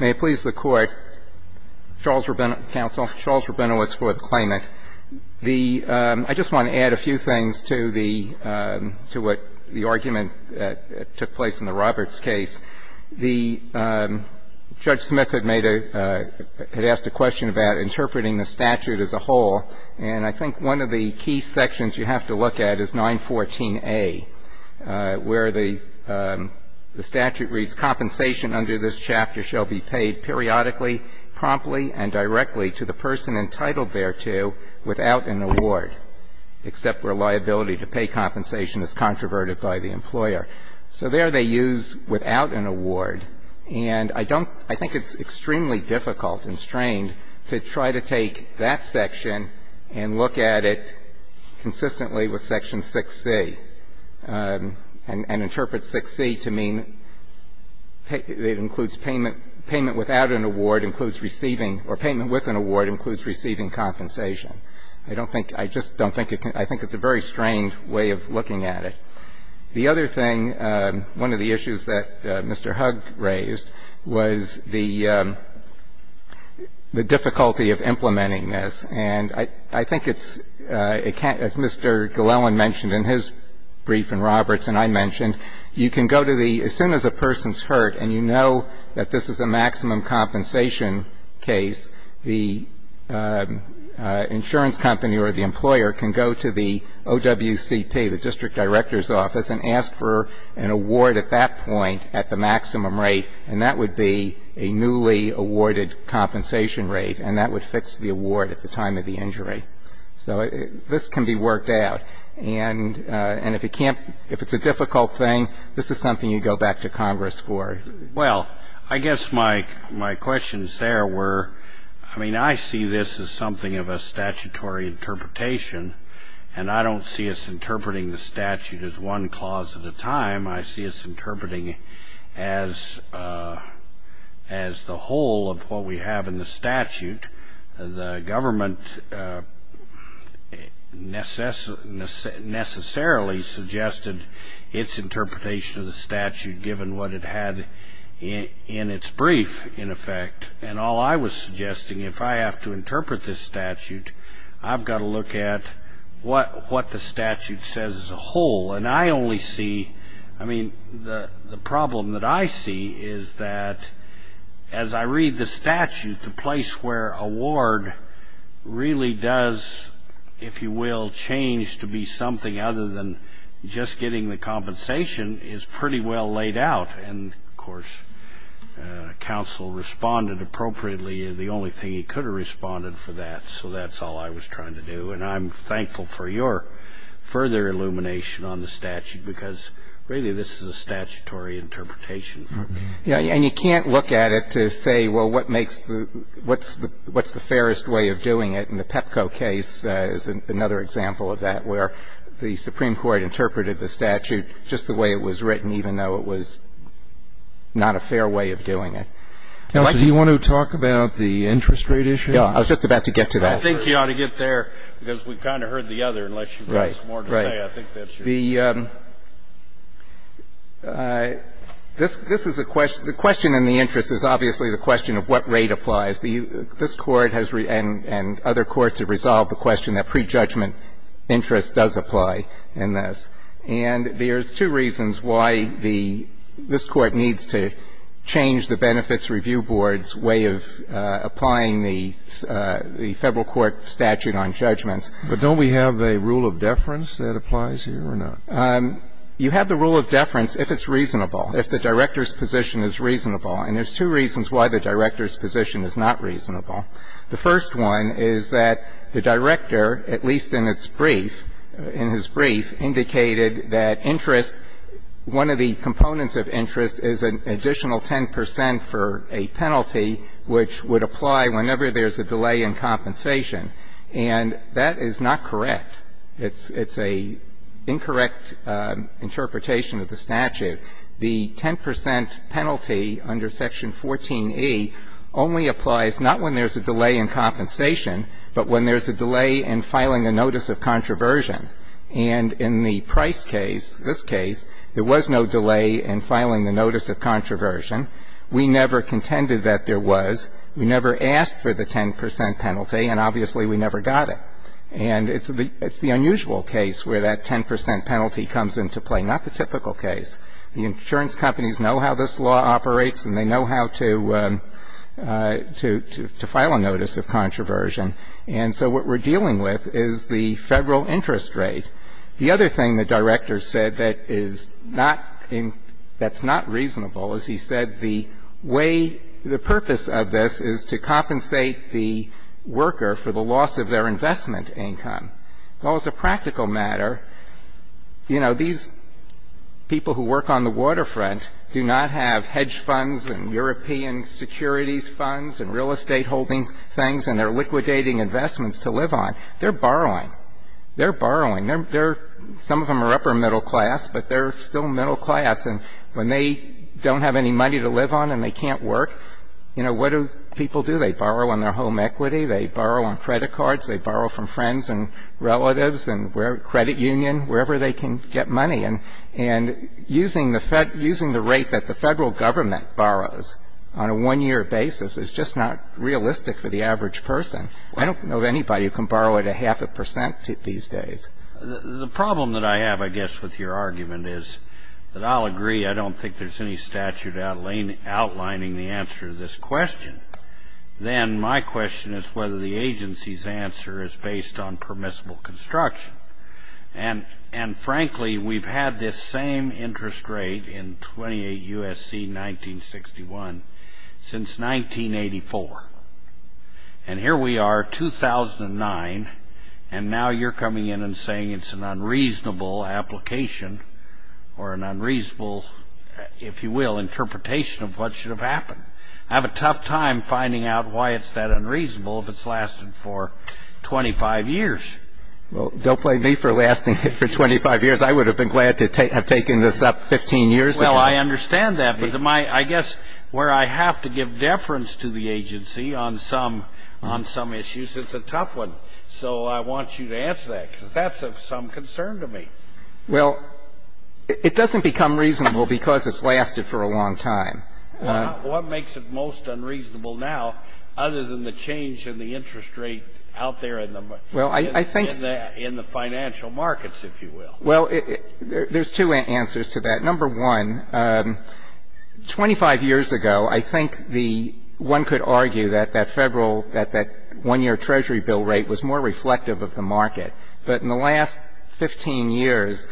May it please the Court, Charles Rabinowitz for the claimant. I just want to add a few things to what the argument that took place in the Roberts case. Judge Smith had asked a question about interpreting the statute as a whole, and I think one of the key sections you have to look at is 914A, where the statute reads, Compensation under this chapter shall be paid periodically, promptly, and directly to the person entitled thereto without an award, except where liability to pay compensation is controverted by the employer. So there they use without an award, and I think it's extremely difficult and strained to try to take that section and look at it consistently with section 6C, and interpret 6C to mean it includes payment without an award includes receiving or payment with an award includes receiving compensation. I don't think, I just don't think, I think it's a very strained way of looking at it. The other thing, one of the issues that Mr. Hugg raised was the difficulty of implementing this. And I think it's, as Mr. Glellen mentioned in his brief and Roberts and I mentioned, you can go to the, as soon as a person's hurt and you know that this is a maximum compensation case, the insurance company or the employer can go to the OWCP, the district director's office, and ask for an award at that point at the maximum rate, and that would be a newly awarded compensation rate, and that would fix the award at the time of the injury. So this can be worked out. And if it can't, if it's a difficult thing, this is something you go back to Congress for. Well, I guess my question is there where, I mean, I see this as something of a statutory interpretation, and I don't see us interpreting the statute as one clause at a time. I see us interpreting it as the whole of what we have in the statute. The government necessarily suggested its interpretation of the statute, given what it had in its brief, in effect. And all I was suggesting, if I have to interpret this statute, I've got to look at what the statute says as a whole. And I only see, I mean, the problem that I see is that as I read the statute, the place where award really does, if you will, change to be something other than just getting the compensation is pretty well laid out. And, of course, counsel responded appropriately. The only thing he could have responded for that, so that's all I was trying to do. And I'm thankful for your further illumination on the statute, because really this is a statutory interpretation. And you can't look at it to say, well, what makes the, what's the fairest way of doing it? And the Pepco case is another example of that, where the Supreme Court interpreted the statute just the way it was written, even though it was not a fair way of doing it. Counsel, do you want to talk about the interest rate issue? I was just about to get to that. I think you ought to get there, because we kind of heard the other, unless you've got some more to say. Right. Right. I think that's your point. The question in the interest is obviously the question of what rate applies. This Court and other courts have resolved the question that prejudgment interest does apply in this. And there's two reasons why this Court needs to change the Benefits Review Board's way of applying the Federal court statute on judgments. But don't we have a rule of deference that applies here or not? You have the rule of deference if it's reasonable, if the director's position is reasonable. And there's two reasons why the director's position is not reasonable. The first one is that the director, at least in its brief, in his brief, indicated that interest, one of the components of interest is an additional 10 percent for a penalty which would apply whenever there's a delay in compensation. And that is not correct. It's a incorrect interpretation of the statute. The 10 percent penalty under Section 14e only applies not when there's a delay in compensation, but when there's a delay in filing a notice of controversy. And in the Price case, this case, there was no delay in filing the notice of controversy. We never contended that there was. We never asked for the 10 percent penalty, and obviously we never got it. And it's the unusual case where that 10 percent penalty comes into play, not the typical case. The insurance companies know how this law operates, and they know how to file a notice of controversy. And so what we're dealing with is the Federal interest rate. The other thing the Director said that is not in – that's not reasonable is he said the way – the purpose of this is to compensate the worker for the loss of their investment income. Well, as a practical matter, you know, these people who work on the waterfront do not have hedge funds and European securities funds and real estate holding things and they're liquidating investments to live on. They're borrowing. They're borrowing. They're – some of them are upper middle class, but they're still middle class. And when they don't have any money to live on and they can't work, you know, what do people do? They borrow on their home equity. They borrow on credit cards. They borrow from friends and relatives and credit union, wherever they can get money. And using the rate that the Federal Government borrows on a one-year basis is just not realistic for the average person. I don't know of anybody who can borrow at a half a percent these days. The problem that I have, I guess, with your argument is that I'll agree I don't think there's any statute outlining the answer to this question. Then my question is whether the agency's answer is based on permissible construction. And, frankly, we've had this same interest rate in 28 U.S.C. 1961 since 1984. And here we are, 2009, and now you're coming in and saying it's an unreasonable application or an unreasonable, if you will, interpretation of what should have happened. I have a tough time finding out why it's that unreasonable if it's lasted for 25 years. Well, don't blame me for lasting it for 25 years. I would have been glad to have taken this up 15 years ago. Well, I understand that, but I guess where I have to give deference to the agency on some issues, it's a tough one. So I want you to answer that, because that's of some concern to me. Well, it doesn't become reasonable because it's lasted for a long time. Well, what makes it most unreasonable now other than the change in the interest rate out there in the financial markets, if you will? Well, there's two answers to that. Number one, 25 years ago, I think one could argue that that one-year Treasury bill rate was more reflective of the market. But in the last 15 years,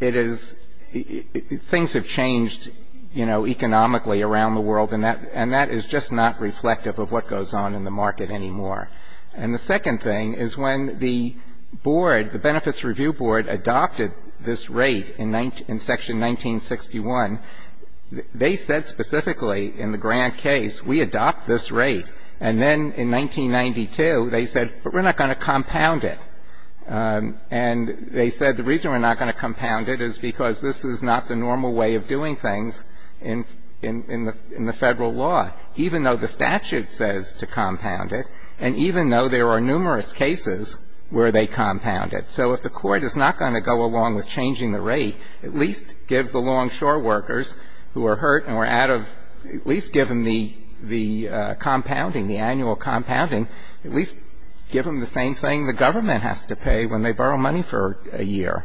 things have changed, you know, economically around the world, and that is just not reflective of what goes on in the market anymore. And the second thing is when the board, the Benefits Review Board, adopted this rate in section 1961, they said specifically in the Grant case, we adopt this rate. And then in 1992, they said, but we're not going to compound it. And they said the reason we're not going to compound it is because this is not the normal way of doing things in the Federal law, even though the statute says to compound it, and even though there are numerous cases where they compound it. So if the Court is not going to go along with changing the rate, at least give the longshore workers who are hurt and were out of at least give them the compounding, the annual compounding, at least give them the same thing the government has to pay when they borrow money for a year.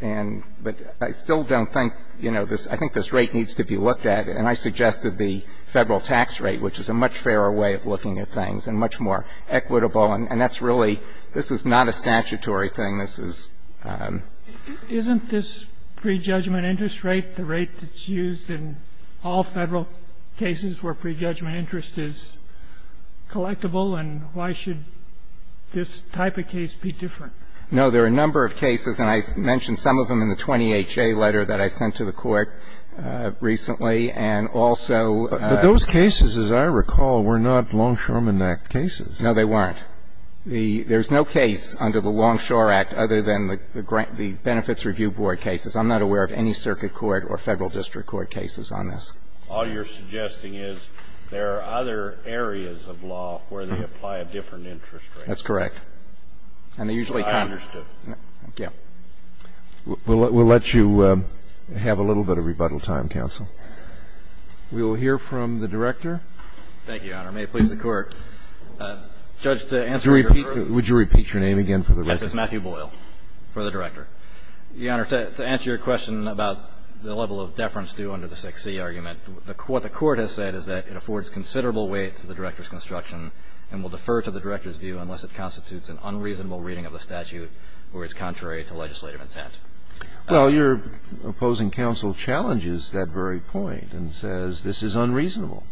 And but I still don't think, you know, I think this rate needs to be looked at, and I suggested the Federal tax rate, which is a much fairer way of looking at things and much more equitable. And that's really – this is not a statutory thing. This is – Isn't this prejudgment interest rate the rate that's used in all Federal cases where prejudgment interest is collectible? And why should this type of case be different? No. There are a number of cases, and I mentioned some of them in the 20HA letter that I sent to the Court recently, and also – But those cases, as I recall, were not Longshoreman Act cases. No, they weren't. There's no case under the Longshore Act other than the Benefits Review Board cases. I'm not aware of any circuit court or Federal district court cases on this. All you're suggesting is there are other areas of law where they apply a different interest rate. That's correct. And they usually – I understood. Thank you. We'll let you have a little bit of rebuttal time, counsel. We will hear from the Director. Thank you, Your Honor. May it please the Court. Judge, to answer your question – Would you repeat your name again for the record? Yes. It's Matthew Boyle for the Director. Your Honor, to answer your question about the level of deference due under the 6C argument, what the Court has said is that it affords considerable weight to the Director's construction and will defer to the Director's view unless it constitutes an unreasonable reading of the statute or is contrary to legislative intent. Well, your opposing counsel challenges that very point and says this is unreasonable.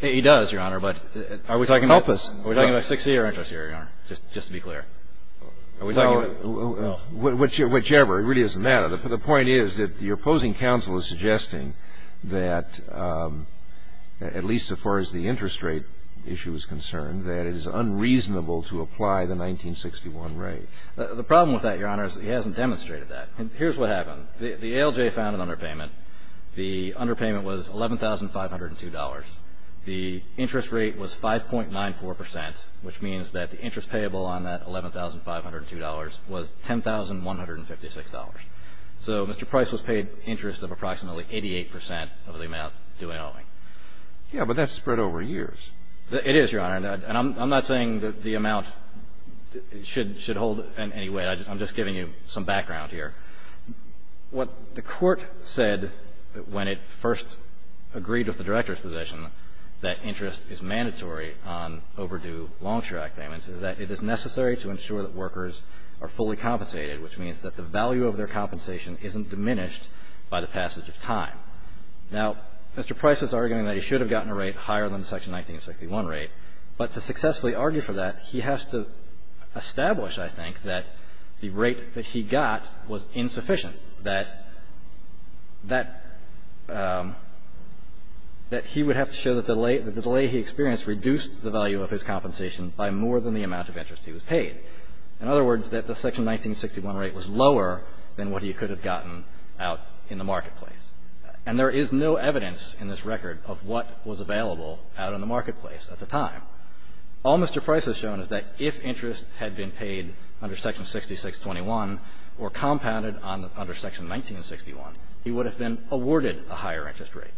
He does, Your Honor, but are we talking about – Help us. Are we talking about 6C or interest here, Your Honor, just to be clear? Are we talking about – Well, whichever. It really isn't that. The point is that your opposing counsel is suggesting that, at least as far as the interest rate issue is concerned, that it is unreasonable to apply the 1961 rate. The problem with that, Your Honor, is he hasn't demonstrated that. Here's what happened. The ALJ found an underpayment. The underpayment was $11,502. The interest rate was 5.94 percent, which means that the interest payable on that $11,502 was $10,156. So Mr. Price was paid interest of approximately 88 percent of the amount due in owing. Yes, but that's spread over years. It is, Your Honor. And I'm not saying that the amount should hold in any way. I'm just giving you some background here. What the Court said when it first agreed with the Director's position that interest is mandatory on overdue long-track payments is that it is necessary to ensure that workers are fully compensated, which means that the value of their compensation isn't diminished by the passage of time. Now, Mr. Price is arguing that he should have gotten a rate higher than the section 1961 rate. But to successfully argue for that, he has to establish, I think, that the rate that he got was insufficient, that that he would have to show that the delay he experienced reduced the value of his compensation by more than the amount of interest he was paid, in other words, that the section 1961 rate was lower than what he could have gotten out in the marketplace. And there is no evidence in this record of what was available out in the marketplace at the time. All Mr. Price has shown is that if interest had been paid under section 6621 or compounded under section 1961, he would have been awarded a higher interest rate.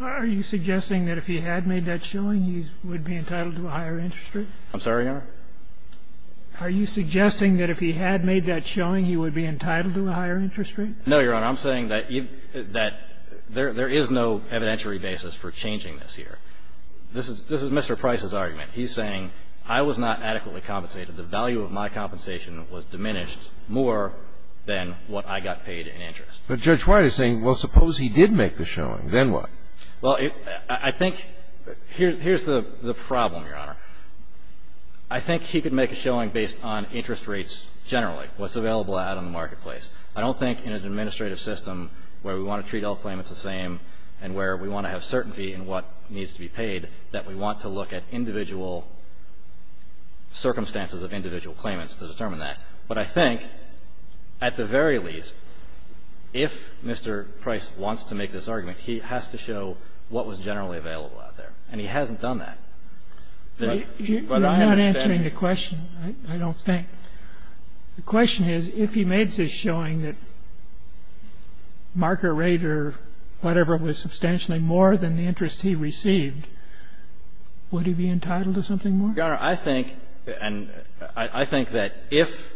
Are you suggesting that if he had made that showing, he would be entitled to a higher interest rate? I'm sorry, Your Honor? Are you suggesting that if he had made that showing, he would be entitled to a higher interest rate? No, Your Honor. I'm saying that there is no evidentiary basis for changing this here. This is Mr. Price's argument. He's saying, I was not adequately compensated. The value of my compensation was diminished more than what I got paid in interest. But Judge White is saying, well, suppose he did make the showing, then what? Well, I think here's the problem, Your Honor. I think he could make a showing based on interest rates generally, what's available out in the marketplace. I don't think in an administrative system where we want to treat all claimants the same and where we want to have certainty in what needs to be paid, that we want to look at individual circumstances of individual claimants to determine that. But I think, at the very least, if Mr. Price wants to make this argument, he has to show what was generally available out there, and he hasn't done that. But I understand that. You're not answering the question, I don't think. The question is, if he made this showing that marker rate or whatever was substantially more than the interest he received, would he be entitled to something more? Your Honor, I think, and I think that if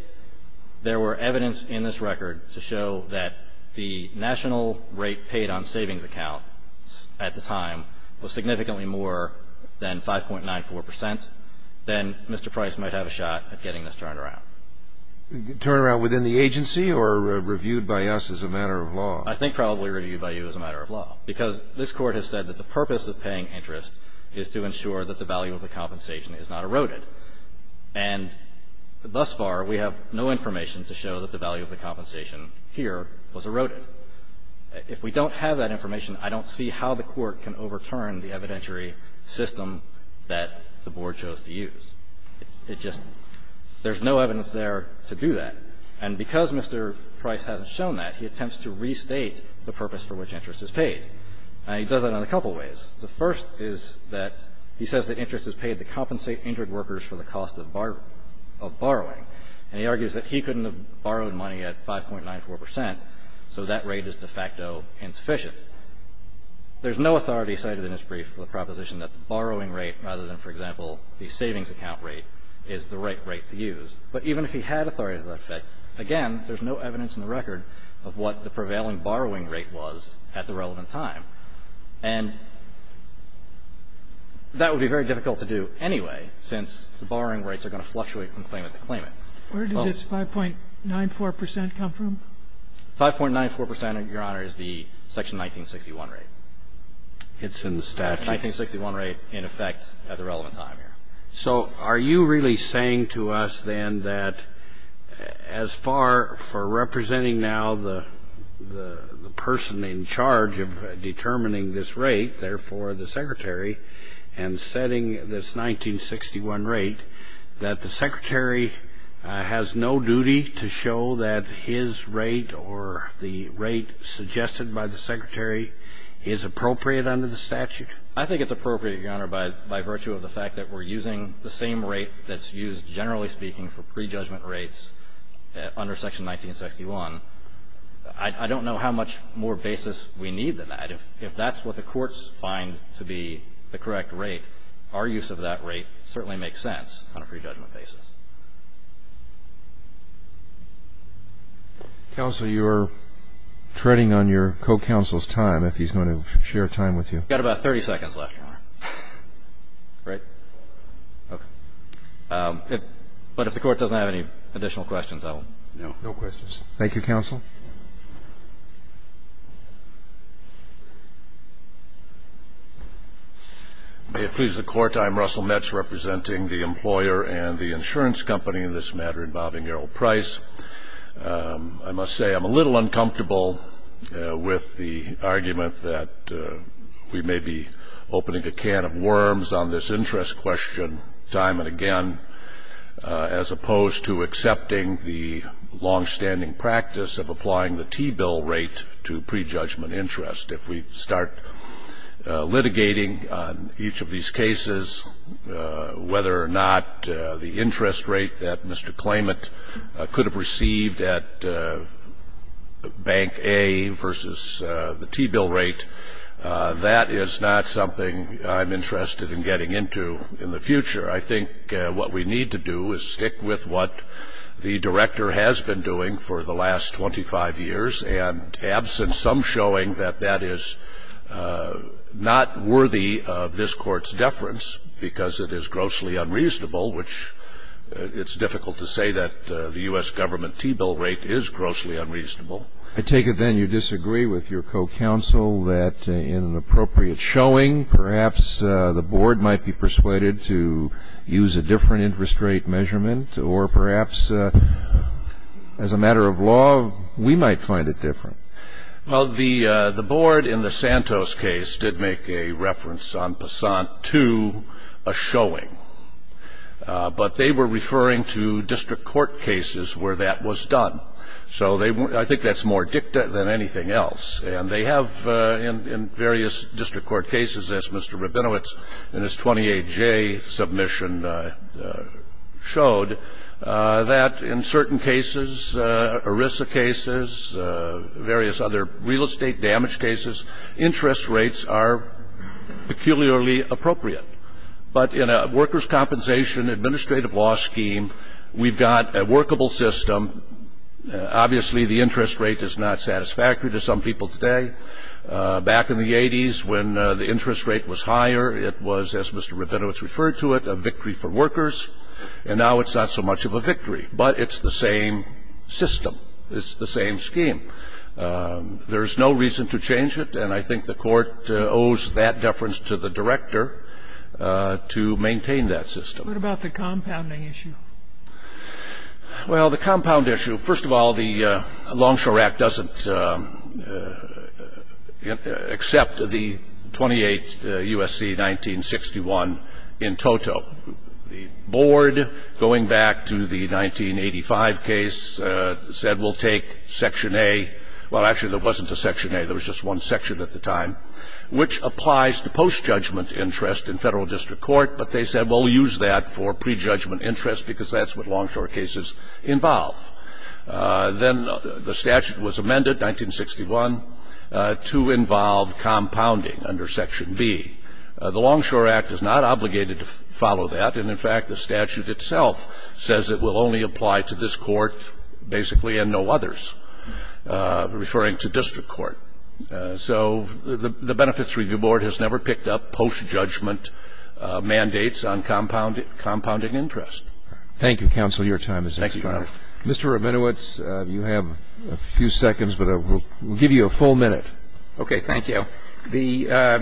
there were evidence in this record to show that the national rate paid on savings accounts at the time was significantly more than 5.94 percent, then Mr. Price might have a shot at getting this turned around. Turn around within the agency or reviewed by us as a matter of law? I think probably reviewed by you as a matter of law, because this Court has said that the purpose of paying interest is to ensure that the value of the compensation is not eroded. And thus far, we have no information to show that the value of the compensation here was eroded. If we don't have that information, I don't see how the Court can overturn the evidentiary system that the Board chose to use. It just – there's no evidence there to do that. And because Mr. Price hasn't shown that, he attempts to restate the purpose for which interest is paid. And he does that in a couple of ways. The first is that he says that interest is paid to compensate injured workers for the cost of borrowing. And he argues that he couldn't have borrowed money at 5.94 percent, so that rate is de facto insufficient. There's no authority cited in this brief for the proposition that the borrowing rate, rather than, for example, the savings account rate, is the right rate to use. But even if he had authority to that effect, again, there's no evidence in the record of what the prevailing borrowing rate was at the relevant time. And that would be very difficult to do anyway, since the borrowing rates are going to fluctuate from claimant to claimant. Well – Sotomayor Where did this 5.94 percent come from? 5.94 percent, Your Honor, is the Section 1961 rate. It's in the statute. The 1961 rate, in effect, at the relevant time here. So are you really saying to us, then, that as far for representing now the person in charge of determining this rate, therefore the Secretary, and setting this 1961 rate, that the Secretary has no duty to show that his rate or the rate suggested by the Secretary is appropriate under the statute? I think it's appropriate, Your Honor, by virtue of the fact that we're using the same rate that's used, generally speaking, for prejudgment rates under Section 1961. I don't know how much more basis we need than that. If that's what the courts find to be the correct rate, our use of that rate certainly makes sense on a prejudgment basis. Counsel, you're treading on your co-counsel's time, if he's going to share time with you. I've got about 30 seconds left, Your Honor. Right? Okay. But if the Court doesn't have any additional questions, I will. No. No questions. Thank you, Counsel. May it please the Court, I'm Russell Metz, representing the employer and the insurance company in this matter involving Errol Price. I must say I'm a little uncomfortable with the argument that we may be opening a can of worms on this interest question time and again, as opposed to accepting the longstanding practice of applying the T-bill rate to prejudgment interest. If we start litigating on each of these cases, whether or not the interest rate that Mr. Klayment could have received at Bank A versus the T-bill rate, that is not something I'm interested in getting into in the future. I think what we need to do is stick with what the Director has been doing for the last 25 years and absent some showing that that is not worthy of this Court's deference because it is grossly unreasonable, which it's difficult to say that the U.S. Government T-bill rate is grossly unreasonable. I take it then you disagree with your co-counsel that in an appropriate showing, perhaps the Board might be persuaded to use a different interest rate measurement or perhaps, as a matter of law, we might find it different. Well, the Board in the Santos case did make a reference on Passant 2, a showing. But they were referring to district court cases where that was done. So I think that's more dicta than anything else. And they have in various district court cases, as Mr. Rabinowitz in his 28J submission showed, that in certain cases, ERISA cases, various other real estate damage cases, interest rates are peculiarly appropriate. But in a workers' compensation administrative law scheme, we've got a workable system. Obviously, the interest rate is not satisfactory to some people today. Back in the 80s, when the interest rate was higher, it was, as Mr. Rabinowitz referred to it, a victory for workers. And now it's not so much of a victory. But it's the same system. It's the same scheme. There's no reason to change it. And I think the Court owes that deference to the director to maintain that system. What about the compounding issue? Well, the compound issue, first of all, the Longshore Act doesn't accept the 28 U.S.C. 1961 in toto. The board, going back to the 1985 case, said we'll take Section A. Well, actually, there wasn't a Section A. There was just one section at the time, which applies to post-judgment interest in federal district court. But they said, well, we'll use that for prejudgment interest because that's what longshore cases involve. Then the statute was amended, 1961, to involve compounding under Section B. The Longshore Act is not obligated to follow that. And, in fact, the statute itself says it will only apply to this court, basically, and no others, referring to district court. So the Benefits Review Board has never picked up post-judgment mandates on compounding interest. Thank you, Counsel. Your time is up. Thank you, Your Honor. Mr. Rabinowitz, you have a few seconds, but we'll give you a full minute. Okay. Thank you. The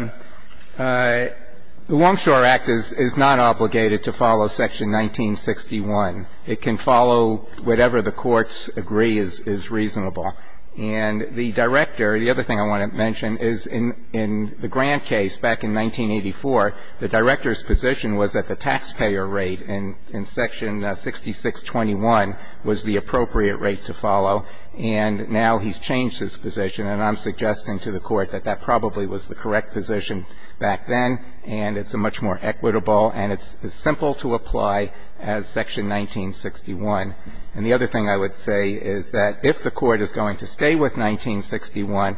Longshore Act is not obligated to follow Section 1961. It can follow whatever the courts agree is reasonable. And the director, the other thing I want to mention is in the Grant case back in 1984, the director's position was that the taxpayer rate in Section 6621 was the appropriate rate to follow. And now he's changed his position, and I'm suggesting to the Court that that probably was the correct position back then. And it's a much more equitable, and it's as simple to apply as Section 1961. And the other thing I would say is that if the Court is going to stay with 1961,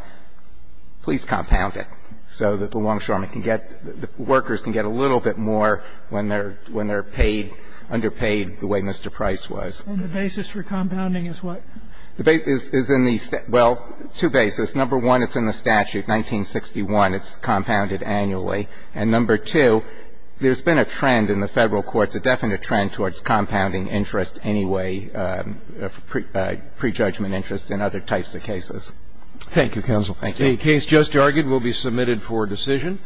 please compound it so that the Longshoremen can get the workers can get a little bit more when they're paid, underpaid, the way Mr. Price was. And the basis for compounding is what? The basis is in the Statute. Well, two basis. Number one, it's in the statute, 1961. It's compounded annually. And number two, there's been a trend in the Federal courts, a definite trend towards compounding interest anyway, prejudgment interest in other types of cases. Thank you, Counsel. Thank you. The case just argued will be submitted for decision.